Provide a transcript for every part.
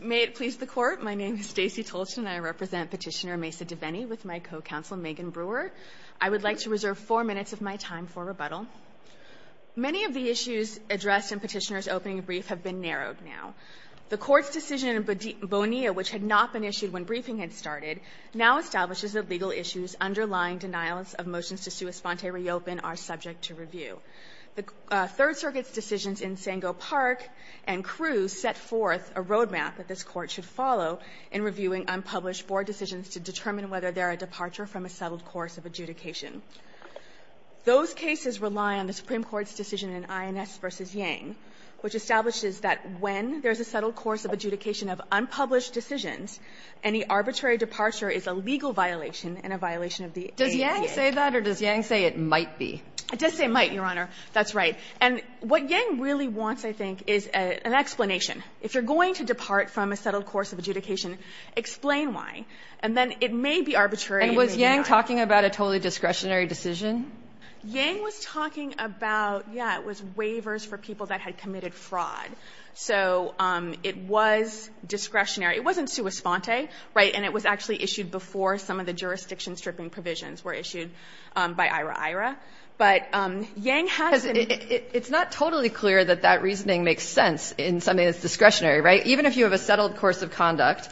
May it please the Court, my name is Stacey Tolchin and I represent Petitioner Meza-Diveni with my co-counsel Megan Brewer. I would like to reserve four minutes of my time for rebuttal. Many of the issues addressed in Petitioner's opening brief have been narrowed now. The Court's decision in Bonilla, which had not been issued when briefing had started, now establishes that legal issues underlying denials of motions to sua sponte reopen are subject to review. The Third Circuit's decisions in Sango Park and Crewe set forth a roadmap that this Court should follow in reviewing unpublished board decisions to determine whether there are departure from a settled course of adjudication. Those cases rely on the Supreme Court's decision in INS v. Yang, which establishes that when there is a settled course of adjudication of unpublished decisions, any arbitrary departure is a legal violation and a violation of the ADA. Does Yang say that, or does Yang say it might be? It does say might, Your Honor. That's right. And what Yang really wants, I think, is an explanation. If you're going to depart from a settled course of adjudication, explain why. And then it may be arbitrary and it may not. And was Yang talking about a totally discretionary decision? Yang was talking about, yeah, it was waivers for people that had committed fraud. So it was discretionary. It wasn't sua sponte, right? And it was actually issued before some of the jurisdiction-stripping provisions were issued by IRA-IRA. But Yang hasn't... It's not totally clear that that reasoning makes sense in something that's discretionary, right? Even if you have a settled course of conduct,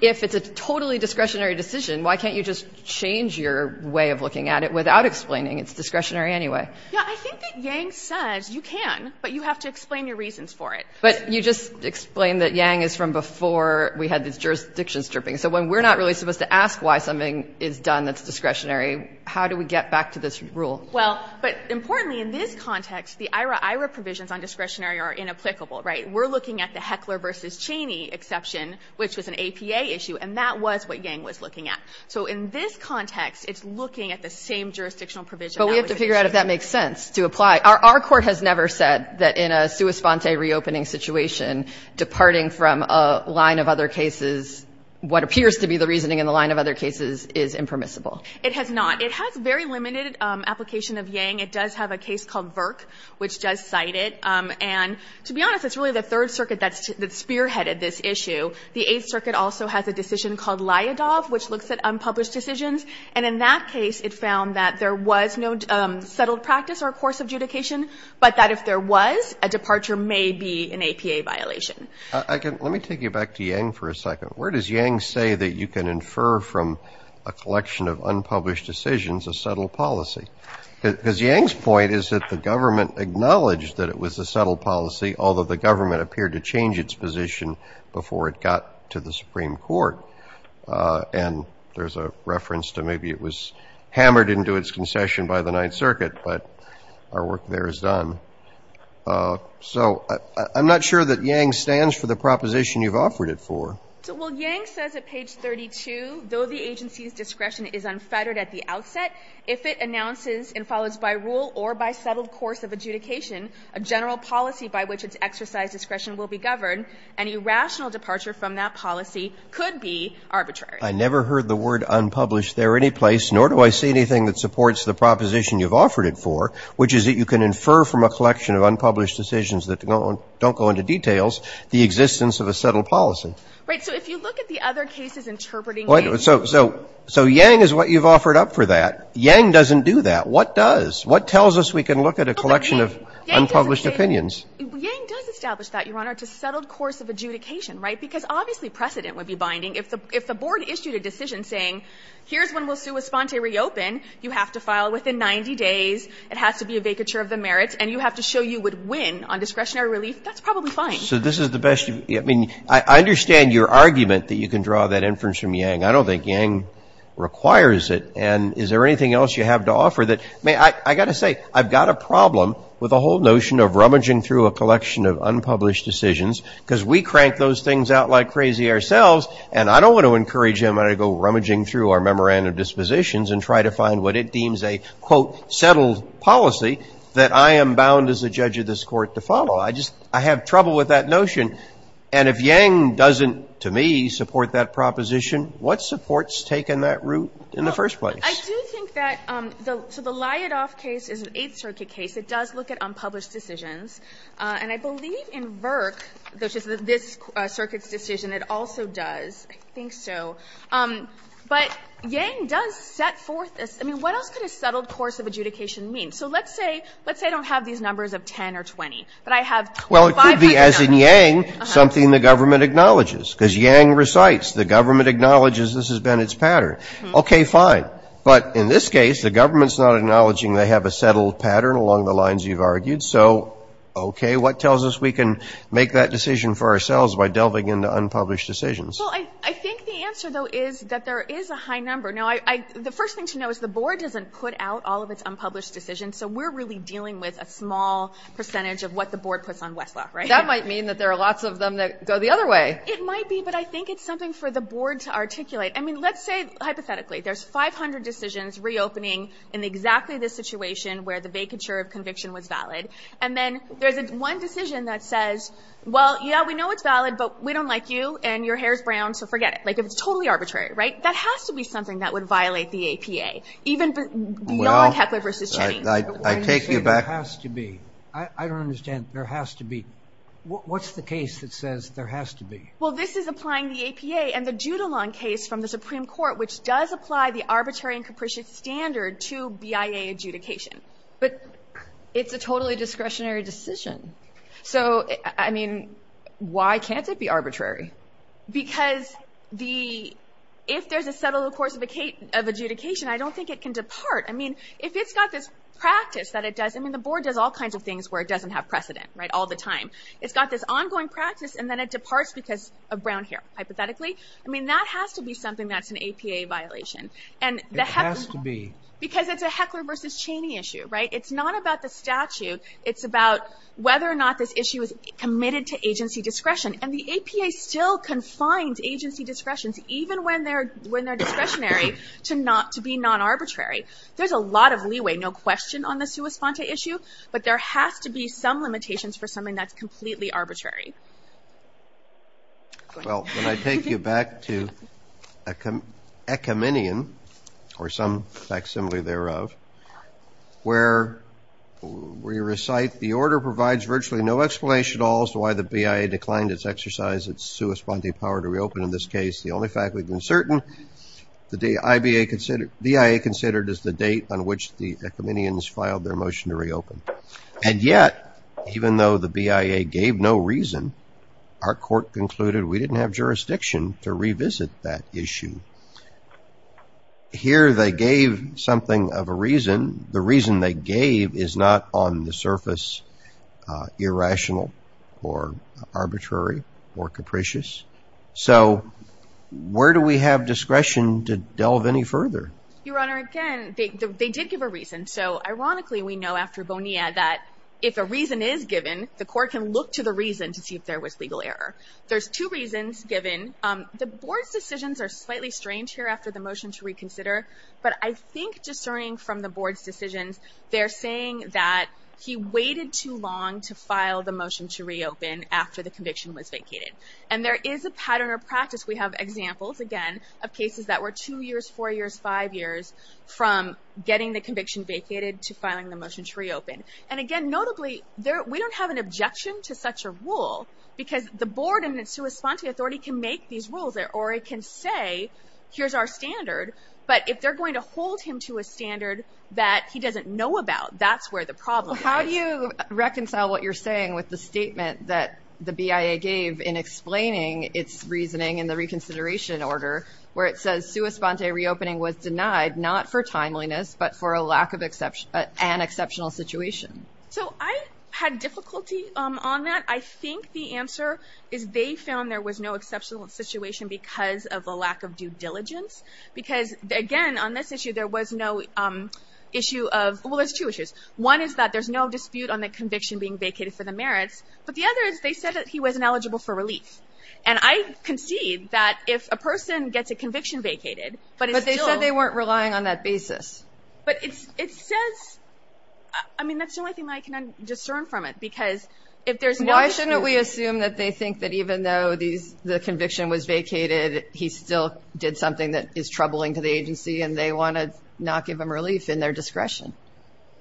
if it's a totally discretionary decision, why can't you just change your way of looking at it without explaining it's discretionary anyway? Yeah, I think that Yang says you can, but you have to explain your reasons for it. But you just explained that Yang is from before we had this jurisdiction-stripping. So when we're not really supposed to ask why something is done that's discretionary, how do we get back to this rule? Well, but importantly, in this context, the IRA-IRA provisions on discretionary are inapplicable, right? We're looking at the Heckler v. Cheney exception, which was an APA issue, and that was what Yang was looking at. So in this context, it's looking at the same jurisdictional provision... But we have to figure out if that makes sense to apply. Our court has never said that in a sua sponte reopening situation, departing from a line of other cases, what appears to be the reasoning in the line of other cases, is impermissible. It has not. It has very limited application of Yang. It does have a case called Virk, which does cite it. And to be honest, it's really the Third Circuit that spearheaded this issue. The Eighth Circuit also has a decision called Lyadov, which looks at unpublished decisions. And in that case, it found that there was no settled practice or a course of adjudication, but that if there was, a departure may be an APA violation. I can – let me take you back to Yang for a second. Where does Yang say that you can infer from a collection of unpublished decisions a settled policy? Because Yang's point is that the government acknowledged that it was a settled policy, although the government appeared to change its position before it got to the Supreme Court. And there's a reference to maybe it was hammered into its concession by the Ninth Circuit. But our work there is done. So I'm not sure that Yang stands for the proposition you've offered it for. Well, Yang says at page 32, though the agency's discretion is unfettered at the outset, if it announces and follows by rule or by settled course of adjudication a general policy by which its exercise discretion will be governed, an irrational departure from that policy could be arbitrary. I never heard the word unpublished there any place, nor do I see anything that supports the proposition you've offered it for, which is that you can infer from a collection of unpublished decisions that don't go into details the existence of a settled policy. Right. So if you look at the other cases interpreting Yang's rule. So Yang is what you've offered up for that. Yang doesn't do that. What does? What tells us we can look at a collection of unpublished opinions? Yang does establish that, Your Honor, to settled course of adjudication, right? Because obviously precedent would be binding. If the Board issued a decision saying, here's when we'll sui sponte reopen, you have to file within 90 days, it has to be a vacature of the merits, and you have to show you would win on discretionary relief, that's probably fine. So this is the best you can do. I mean, I understand your argument that you can draw that inference from Yang. I don't think Yang requires it. And is there anything else you have to offer that may – I've got to say, I've got a problem with the whole notion of rummaging through a collection of unpublished decisions, because we crank those things out like crazy ourselves, and I don't want to encourage anybody to go rummaging through our memorandum dispositions and try to find what it deems a, quote, settled policy that I am bound as a judge of this Court to follow. I just – I have trouble with that notion. And if Yang doesn't, to me, support that proposition, what supports taking that route in the first place? I do think that the – so the Lyotoff case is an Eighth Circuit case. It does look at unpublished decisions. And I believe in Virk, which is this Circuit's decision, it also does, I think so. But Yang does set forth this – I mean, what else could a settled course of adjudication mean? So let's say – let's say I don't have these numbers of 10 or 20, but I have five or seven. Roberts. Well, it could be, as in Yang, something the government acknowledges, because Yang recites, the government acknowledges this has been its pattern. Okay, fine. But in this case, the government's not acknowledging they have a settled pattern along the lines you've argued. So, okay, what tells us we can make that decision for ourselves by delving into unpublished decisions? Well, I think the answer, though, is that there is a high number. Now, I – the first thing to know is the board doesn't put out all of its unpublished decisions, so we're really dealing with a small percentage of what the board puts on Westlaw, right? That might mean that there are lots of them that go the other way. It might be, but I think it's something for the board to articulate. I mean, let's say, hypothetically, there's 500 decisions reopening in exactly this situation where the vacature of conviction was valid. And then there's one decision that says, well, yeah, we know it's valid, but we So forget it. Like, if it's totally arbitrary, right? That has to be something that would violate the APA, even beyond Heckler v. Cheney. Well, I take you back. There has to be. I don't understand. There has to be. What's the case that says there has to be? Well, this is applying the APA and the Judilon case from the Supreme Court, which does apply the arbitrary and capricious standard to BIA adjudication. But it's a totally discretionary decision. So, I mean, why can't it be arbitrary? Because if there's a settled course of adjudication, I don't think it can depart. I mean, if it's got this practice that it does, I mean, the board does all kinds of things where it doesn't have precedent, right, all the time. It's got this ongoing practice, and then it departs because of brown hair, hypothetically. I mean, that has to be something that's an APA violation. It has to be. Because it's a Heckler v. Cheney issue, right? It's not about the statute. It's about whether or not this issue is committed to agency discretion. And the APA still confines agency discretions, even when they're discretionary, to be non-arbitrary. There's a lot of leeway, no question, on the sua sponte issue. But there has to be some limitations for something that's completely arbitrary. Go ahead. Well, when I take you back to a ecumenian, or some facsimile thereof, where we recite, the order provides virtually no explanation at all as to why the BIA declined its exercise, its sua sponte power to reopen in this case. The only fact we've been certain, the BIA considered as the date on which the ecumenians filed their motion to reopen. And yet, even though the BIA gave no reason, our court concluded we didn't have jurisdiction to revisit that issue. Here they gave something of a reason. The reason they gave is not on the surface irrational or arbitrary or capricious. So where do we have discretion to delve any further? Your Honor, again, they did give a reason. So ironically, we know after Bonilla that if a reason is given, the court can look to the reason to see if there was legal error. There's two reasons given. The board's decisions are slightly strange here after the motion to reconsider. But I think discerning from the board's decisions, they're saying that he waited too long to file the motion to reopen after the conviction was vacated. And there is a pattern or practice. We have examples, again, of cases that were two years, four years, five years, from getting the conviction vacated to filing the motion to reopen. And again, notably, we don't have an objection to such a rule because the board and its sua sponte authority can make these rules, or it can say, here's our standard. But if they're going to hold him to a standard that he doesn't know about, that's where the problem is. How do you reconcile what you're saying with the statement that the BIA gave in explaining its reasoning in the reconsideration order, where it says sua sponte reopening was denied not for timeliness, but for a lack of an exceptional situation? So I had difficulty on that. I think the answer is they found there was no exceptional situation because of the lack of due diligence. Because again, on this issue, there was no issue of, well, there's two issues. One is that there's no dispute on the conviction being vacated for the merits. But the other is they said that he wasn't eligible for relief. And I concede that if a person gets a conviction vacated, but it's still- But they said they weren't relying on that basis. But it says, I mean, that's the only thing I can discern from it. Because if there's no- Why shouldn't we assume that they think that even though the conviction was vacated, he still did something that is troubling to the agency and they want to not give him relief in their discretion?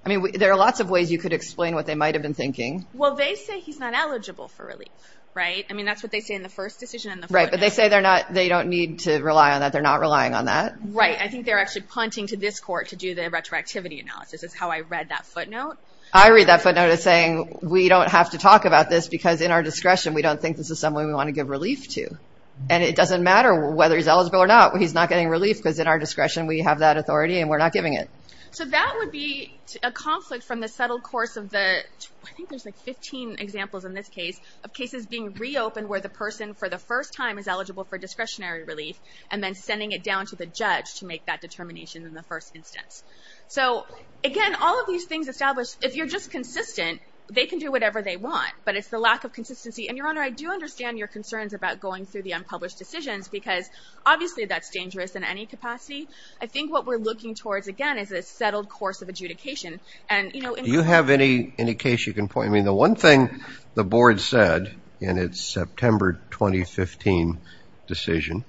I mean, there are lots of ways you could explain what they might have been thinking. Well, they say he's not eligible for relief, right? I mean, that's what they say in the first decision in the footnote. Right, but they say they don't need to rely on that. They're not relying on that. Right, I think they're actually punting to this court to do the retroactivity analysis, is how I read that footnote. I read that footnote as saying, we don't have to talk about this because in our discretion, we don't think this is someone we want to give relief to. And it doesn't matter whether he's eligible or not, he's not getting relief because in our discretion, we have that authority and we're not giving it. So that would be a conflict from the subtle course of the, I think there's like 15 examples in this case, of cases being reopened where the person for the first time is eligible for discretionary relief, and then sending it down to the judge to make that determination in the first instance. So again, all of these things establish, if you're just consistent, they can do whatever they want, but it's the lack of consistency. And Your Honor, I do understand your concerns about going through the unpublished decisions, because obviously that's dangerous in any capacity. I think what we're looking towards, again, is a settled course of adjudication. And, you know, in- You have any, any case you can point, I mean, the one thing the board said in its September 2015 decision,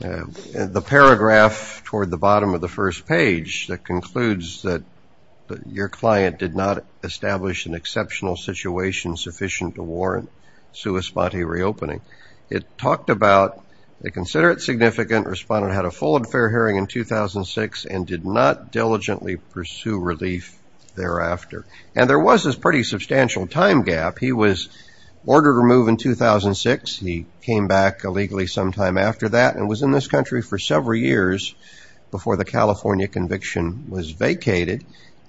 the paragraph toward the bottom of the first page that concludes that, that your client did not establish an exceptional situation sufficient to warrant sua sponte reopening. It talked about, they consider it significant, respondent had a full and fair hearing in 2006, and did not diligently pursue relief thereafter. And there was this pretty substantial time gap. He was ordered removed in 2006, he came back illegally sometime after that, and was in this country for several years before the California conviction was vacated.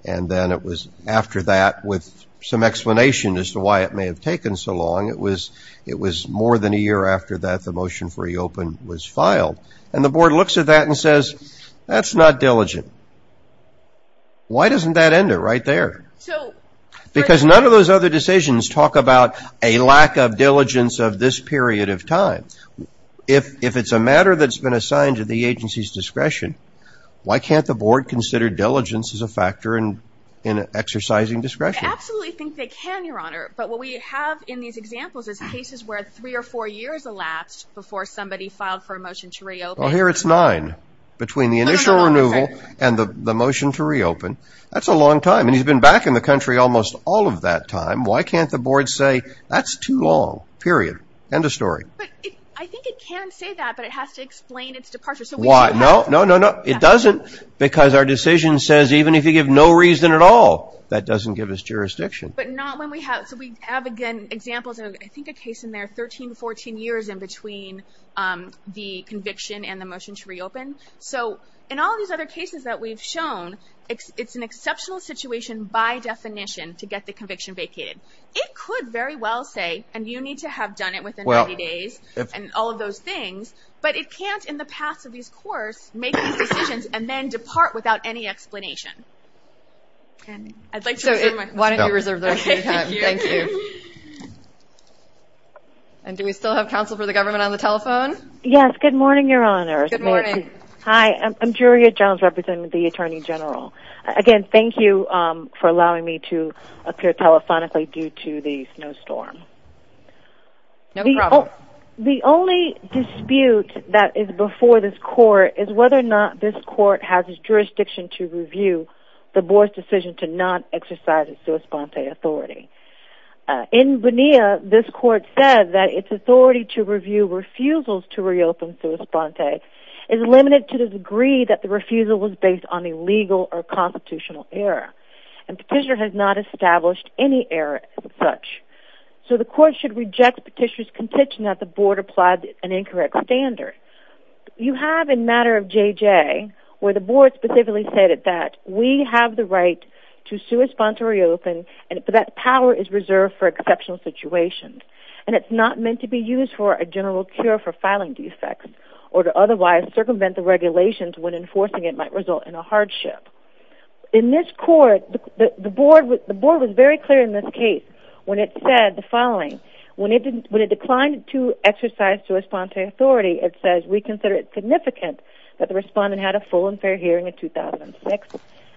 And then it was after that, with some explanation as to why it may have taken so long, it was, it was more than a year after that the motion for reopen was filed. And the board looks at that and says, that's not diligent. Why doesn't that end it right there? So- Because none of those other decisions talk about a lack of diligence of this period of time. If, if it's a matter that's been assigned to the agency's discretion, why can't the board consider diligence as a factor in, in exercising discretion? I absolutely think they can, your honor. But what we have in these examples is cases where three or four years elapsed before somebody filed for a motion to reopen. Well, here it's nine. Between the initial renewal and the, the motion to reopen. That's a long time, and he's been back in the country almost all of that time. Why can't the board say, that's too long, period, end of story. But it, I think it can say that, but it has to explain its departure. Why? No, no, no, no. It doesn't. Because our decision says, even if you give no reason at all, that doesn't give us jurisdiction. But not when we have, so we have again, examples of, I think a case in there, 13 to 14 years in between the conviction and the motion to reopen. So, in all these other cases that we've shown, it's, it's an exceptional situation by definition to get the conviction vacated. It could very well say, and you need to have done it within 90 days, and all of those things, but it can't in the past of this course, make these decisions, and then depart without any explanation. I'd like to reserve my time. Why don't you reserve the rest of your time? Thank you. And do we still have counsel for the government on the telephone? Yes, good morning, your honors. Good morning. Hi, I'm, I'm Julia Jones, representing the Attorney General. Again, thank you for allowing me to appear telephonically due to the snowstorm. No problem. The only dispute that is before this court is whether or not this court has its jurisdiction to review the board's decision to not exercise its sua sponte authority. In Bonilla, this court said that its authority to review refusals to reopen sua sponte is limited to the degree that the refusal was based on a legal or constitutional error. And petitioner has not established any error as such. So the court should reject petitioner's contention that the board applied an incorrect standard. You have in matter of JJ, where the board specifically stated that, we have the right to sue a sponsor reopen, and for that power is reserved for exceptional situations. And it's not meant to be used for a general cure for filing defects, or to otherwise circumvent the regulations when enforcing it might result in a hardship. In this court, the, the board was, the board was very clear in this case. When it said the following, when it didn't, when it declined to exercise sua sponte authority, it says, we consider it significant that the respondent had a full and fair hearing in 2006,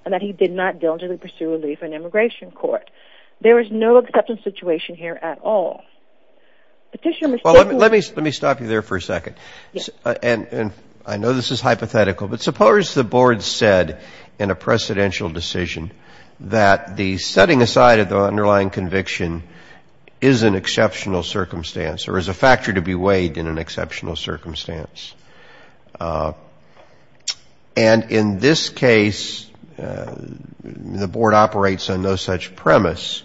and that he did not diligently pursue relief in immigration court, there is no acceptance situation here at all. Petitioner- Well, let me, let me stop you there for a second. And, and I know this is hypothetical, but suppose the board said in a precedential decision that the setting aside of the underlying conviction is an exceptional circumstance, or is a factor to be weighed in an exceptional circumstance. And in this case, the board operates on no such premise.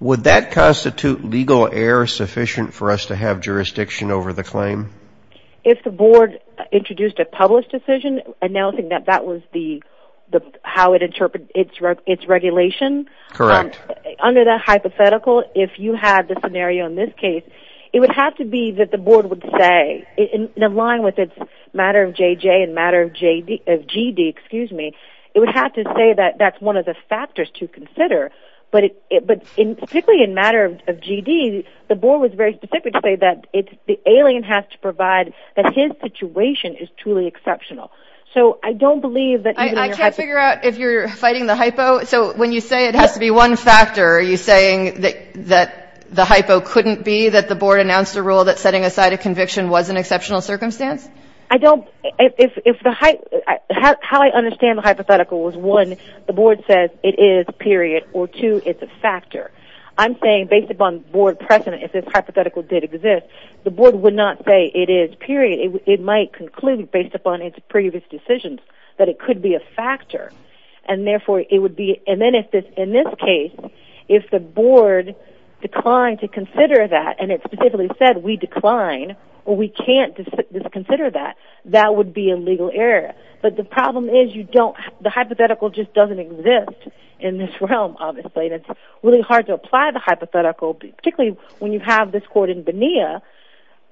Would that constitute legal error sufficient for us to have jurisdiction over the claim? If the board introduced a published decision, announcing that that was the, the, how it interpret its, its regulation. Correct. Under that hypothetical, if you had the scenario in this case, it would have to be that the board would say, in, in line with its matter of JJ and matter of JD, of GD, excuse me, it would have to say that that's one of the factors to consider, but it, it, but in, particularly in matter of, of GD, the board was very specific to say that it's, the alien has to provide, that his situation is truly exceptional. So, I don't believe that- I, I can't figure out if you're fighting the hypo. So, when you say it has to be one factor, are you saying that, that the hypo couldn't be that the board announced a rule that setting aside a conviction was an exceptional circumstance? I don't, if, if the hy, how, how I understand the hypothetical was one, the board says it is, period, or two, it's a factor. I'm saying, based upon board precedent, if this hypothetical did exist, the board would not say it is, period. It, it might conclude, based upon its previous decisions, that it could be a factor, and therefore, it would be, and then if this, in this case, if the board declined to consider that, and it specifically said, we decline, or we can't dis, dis, consider that, that would be a legal error. But the problem is, you don't, the hypothetical just doesn't exist in this realm, obviously, and it's really hard to apply the hypothetical, particularly when you have this court in Bonilla,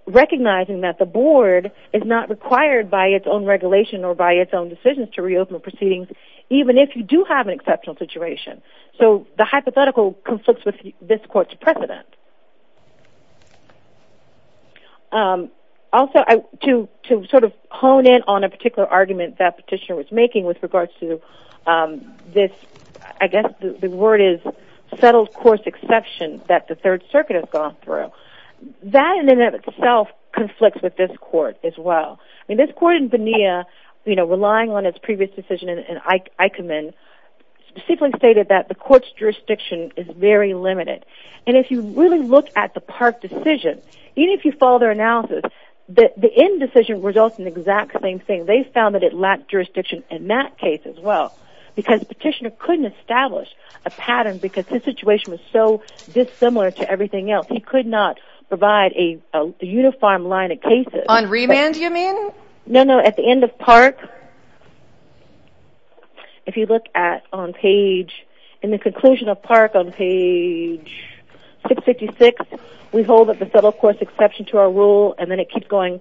recognizing that the board is not required by its own regulation, or by its own decisions to reopen proceedings, even if you do have an exceptional situation. So, the hypothetical conflicts with this court's precedent. Also, I, to, to sort of hone in on a particular argument that petitioner was making with regards to this, I guess the, the word is settled course exception that the third circuit has gone through. That, in and of itself, conflicts with this court as well. I mean, this court in Bonilla, you know, relying on its previous decision in, in Eichmann, specifically stated that the court's jurisdiction is very limited. And if you really look at the Park decision, even if you follow their analysis, the, the end decision results in the exact same thing. They found that it lacked jurisdiction in that case as well. Because petitioner couldn't establish a pattern because his situation was so dissimilar to everything else. He could not provide a, a uniform line of cases. On remand, you mean? No, no, at the end of Park, if you look at, on page, in the conclusion of Park on page 656, we hold that the settle course exception to our rule, and then it keeps going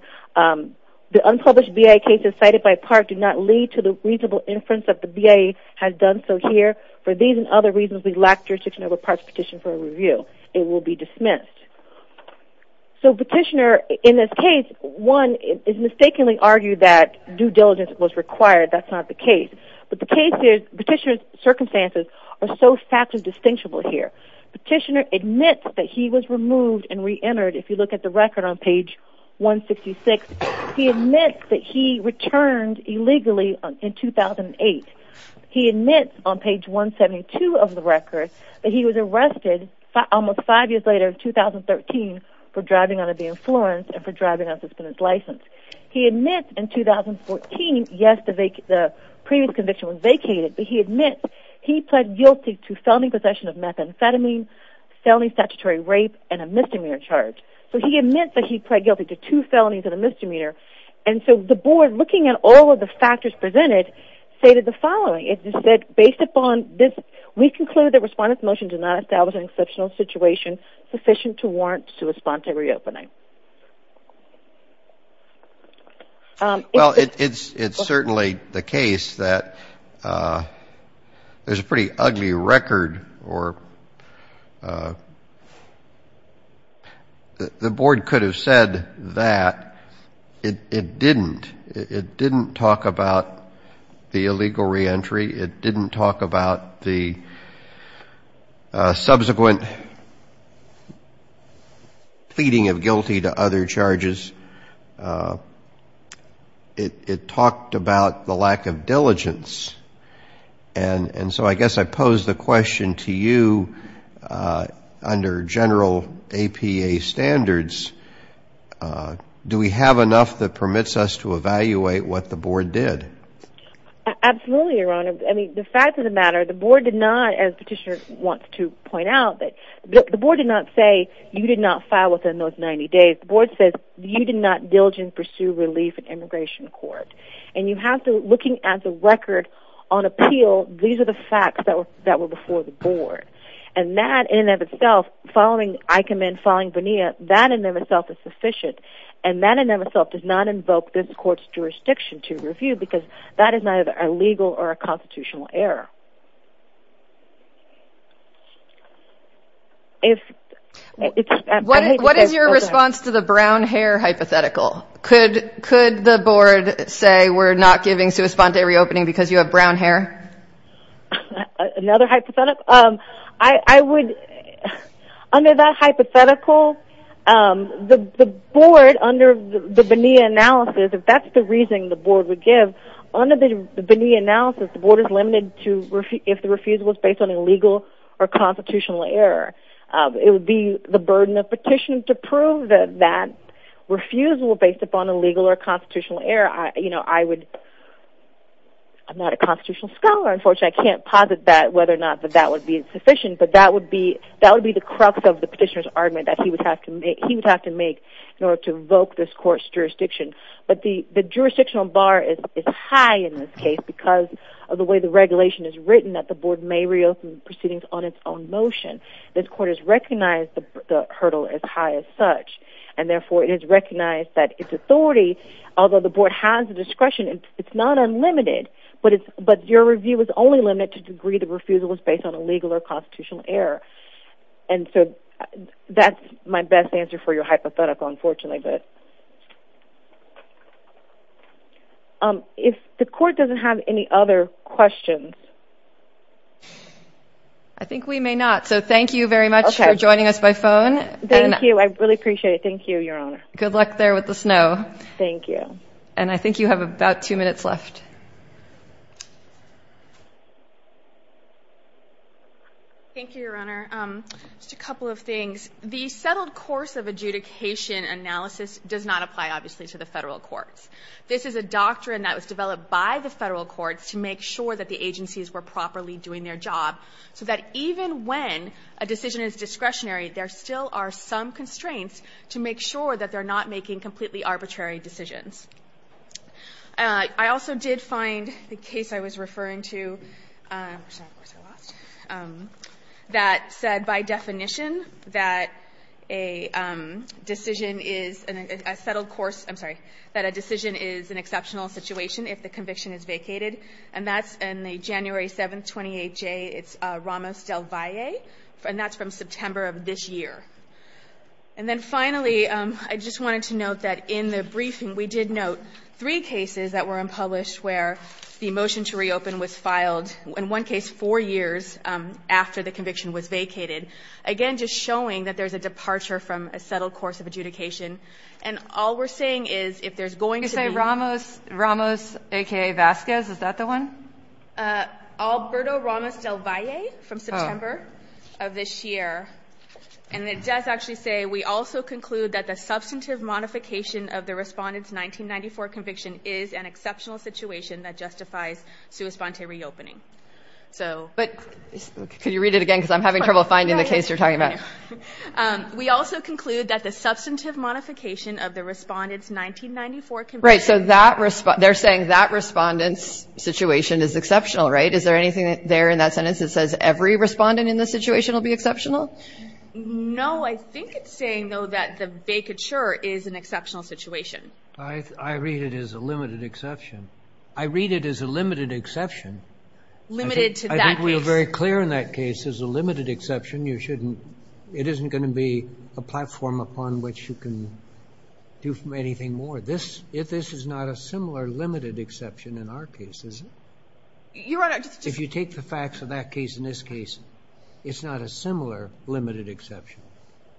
the unpublished BIA cases cited by Park do not lead to the reasonable inference that the BIA has done so here. For these and other reasons, we lack jurisdiction over Park's petition for a review. It will be dismissed. So petitioner, in this case, one is mistakenly argued that due diligence was required. That's not the case. But the case is, petitioner's circumstances are so factually distinctible here. Petitioner admits that he was removed and re-entered. If you look at the record on page 166, he admits that he returned illegally in 2008. He admits on page 172 of the record that he was arrested almost five years later, in 2013, for driving under the influence and for driving under suspended license. He admits in 2014, yes, the vac, the previous conviction was vacated, but he admits he pled guilty to felony possession of methamphetamine, felony statutory rape, and a misdemeanor charge. So he admits that he pled guilty to two felonies and a misdemeanor. And so the board, looking at all of the factors presented, stated the following, it said, based upon this, we conclude that respondent's motion did not establish an exceptional situation sufficient to warrant to respond to re-opening. Well, it's certainly the case that there's a pretty ugly record or the board could have said that it didn't. It didn't talk about the illegal re-entry. It didn't talk about the subsequent pleading of guilty to other charges. It talked about the lack of diligence. And so I guess I pose the question to you under general APA standards. Do we have enough that permits us to evaluate what the board did? Absolutely, your honor. I mean, the fact of the matter, the board did not, as petitioner wants to point out, that the board did not say you did not file within those 90 days. The board says you did not diligently pursue relief in immigration court. And you have to, looking at the record on appeal, these are the facts that were before the board. And that, in and of itself, following, I commend following Bonilla, that in and of itself is sufficient. And that in and of itself does not invoke this court's jurisdiction to review, because that is neither a legal or a constitutional error. If, it's, I hate to say, but- What is your response to the brown hair hypothetical? Could the board say we're not giving to respond to a re-opening because you have brown hair? Another hypothetical? I would, under that hypothetical, the board, under the Bonilla analysis, if that's the reason the board would give, under the Bonilla analysis, the board is limited to, if the refusal was based on a legal or constitutional error, it would be the burden of petition to prove that that refusal based upon a legal or constitutional error, I would, I'm not a constitutional scholar, unfortunately, I can't posit that, whether or not that that would be sufficient, but that would be, that would be the crux of the petitioner's argument that he would have to make, he would have to make in order to invoke this court's jurisdiction. But the jurisdictional bar is high in this case because of the way the regulation is written that the board may re-open proceedings on its own motion. This court has recognized the hurdle as high as such. And therefore, it has recognized that its authority, although the board has the discretion, it's not unlimited. But it's, but your review is only limited to the degree the refusal was based on a legal or constitutional error. And so, that's my best answer for your hypothetical, unfortunately, but. If the court doesn't have any other questions. I think we may not. So thank you very much for joining us by phone. Thank you, I really appreciate it. Thank you, Your Honor. Good luck there with the snow. Thank you. And I think you have about two minutes left. Thank you, Your Honor. Just a couple of things. The settled course of adjudication analysis does not apply, obviously, to the federal courts. This is a doctrine that was developed by the federal courts to make sure that the agencies were properly doing their job. So that even when a decision is discretionary, there still are some constraints to make sure that they're not making completely arbitrary decisions. I also did find the case I was referring to, that said by definition that a decision is, a settled course, I'm sorry, that a decision is an exceptional situation if the conviction is vacated. And that's in the January 7th, 28J, it's Ramos del Valle. And that's from September of this year. And then finally, I just wanted to note that in the briefing, we did note three cases that were unpublished where the motion to reopen was filed, in one case, four years after the conviction was vacated. Again, just showing that there's a departure from a settled course of adjudication. And all we're saying is, if there's going to be- You say Ramos, aka Vasquez, is that the one? Alberto Ramos del Valle from September of this year. And it does actually say, we also conclude that the substantive modification of the respondent's 1994 conviction is an exceptional situation that justifies sui sponte reopening, so. But, could you read it again, because I'm having trouble finding the case you're talking about. We also conclude that the substantive modification of the respondent's 1994 conviction- Right, so they're saying that respondent's situation is exceptional, right? Is there anything there in that sentence that says every respondent in this situation will be exceptional? No, I think it's saying, though, that the vacature is an exceptional situation. I read it as a limited exception. I read it as a limited exception. Limited to that case? I think we were very clear in that case, as a limited exception, you shouldn't, it isn't going to be a platform upon which you can do anything more, if this is not a similar limited exception in our case, is it? Your Honor, just- If you take the facts of that case and this case, it's not a similar limited exception.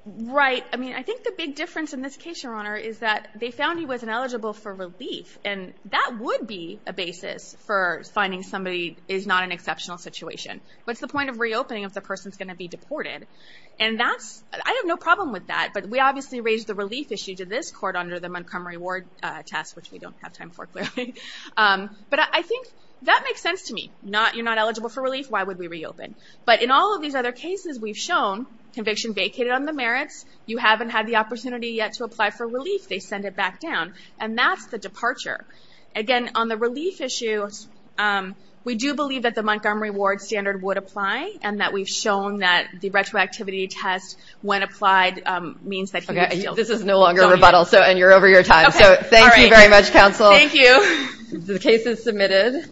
Right, I mean, I think the big difference in this case, Your Honor, is that they found he was ineligible for relief. And that would be a basis for finding somebody is not an exceptional situation. What's the point of reopening if the person's going to be deported? And that's, I have no problem with that, but we obviously raised the relief issue to this court under the Montgomery Ward test, which we don't have time for, clearly. But I think that makes sense to me. You're not eligible for relief, why would we reopen? But in all of these other cases we've shown, conviction vacated on the merits, you haven't had the opportunity yet to apply for relief, they send it back down. And that's the departure. Again, on the relief issue, we do believe that the Montgomery Ward standard would apply, and that we've shown that the retroactivity test, when applied, means that he would still- This is no longer a rebuttal, and you're over your time. So thank you very much, counsel. Thank you. The case is submitted.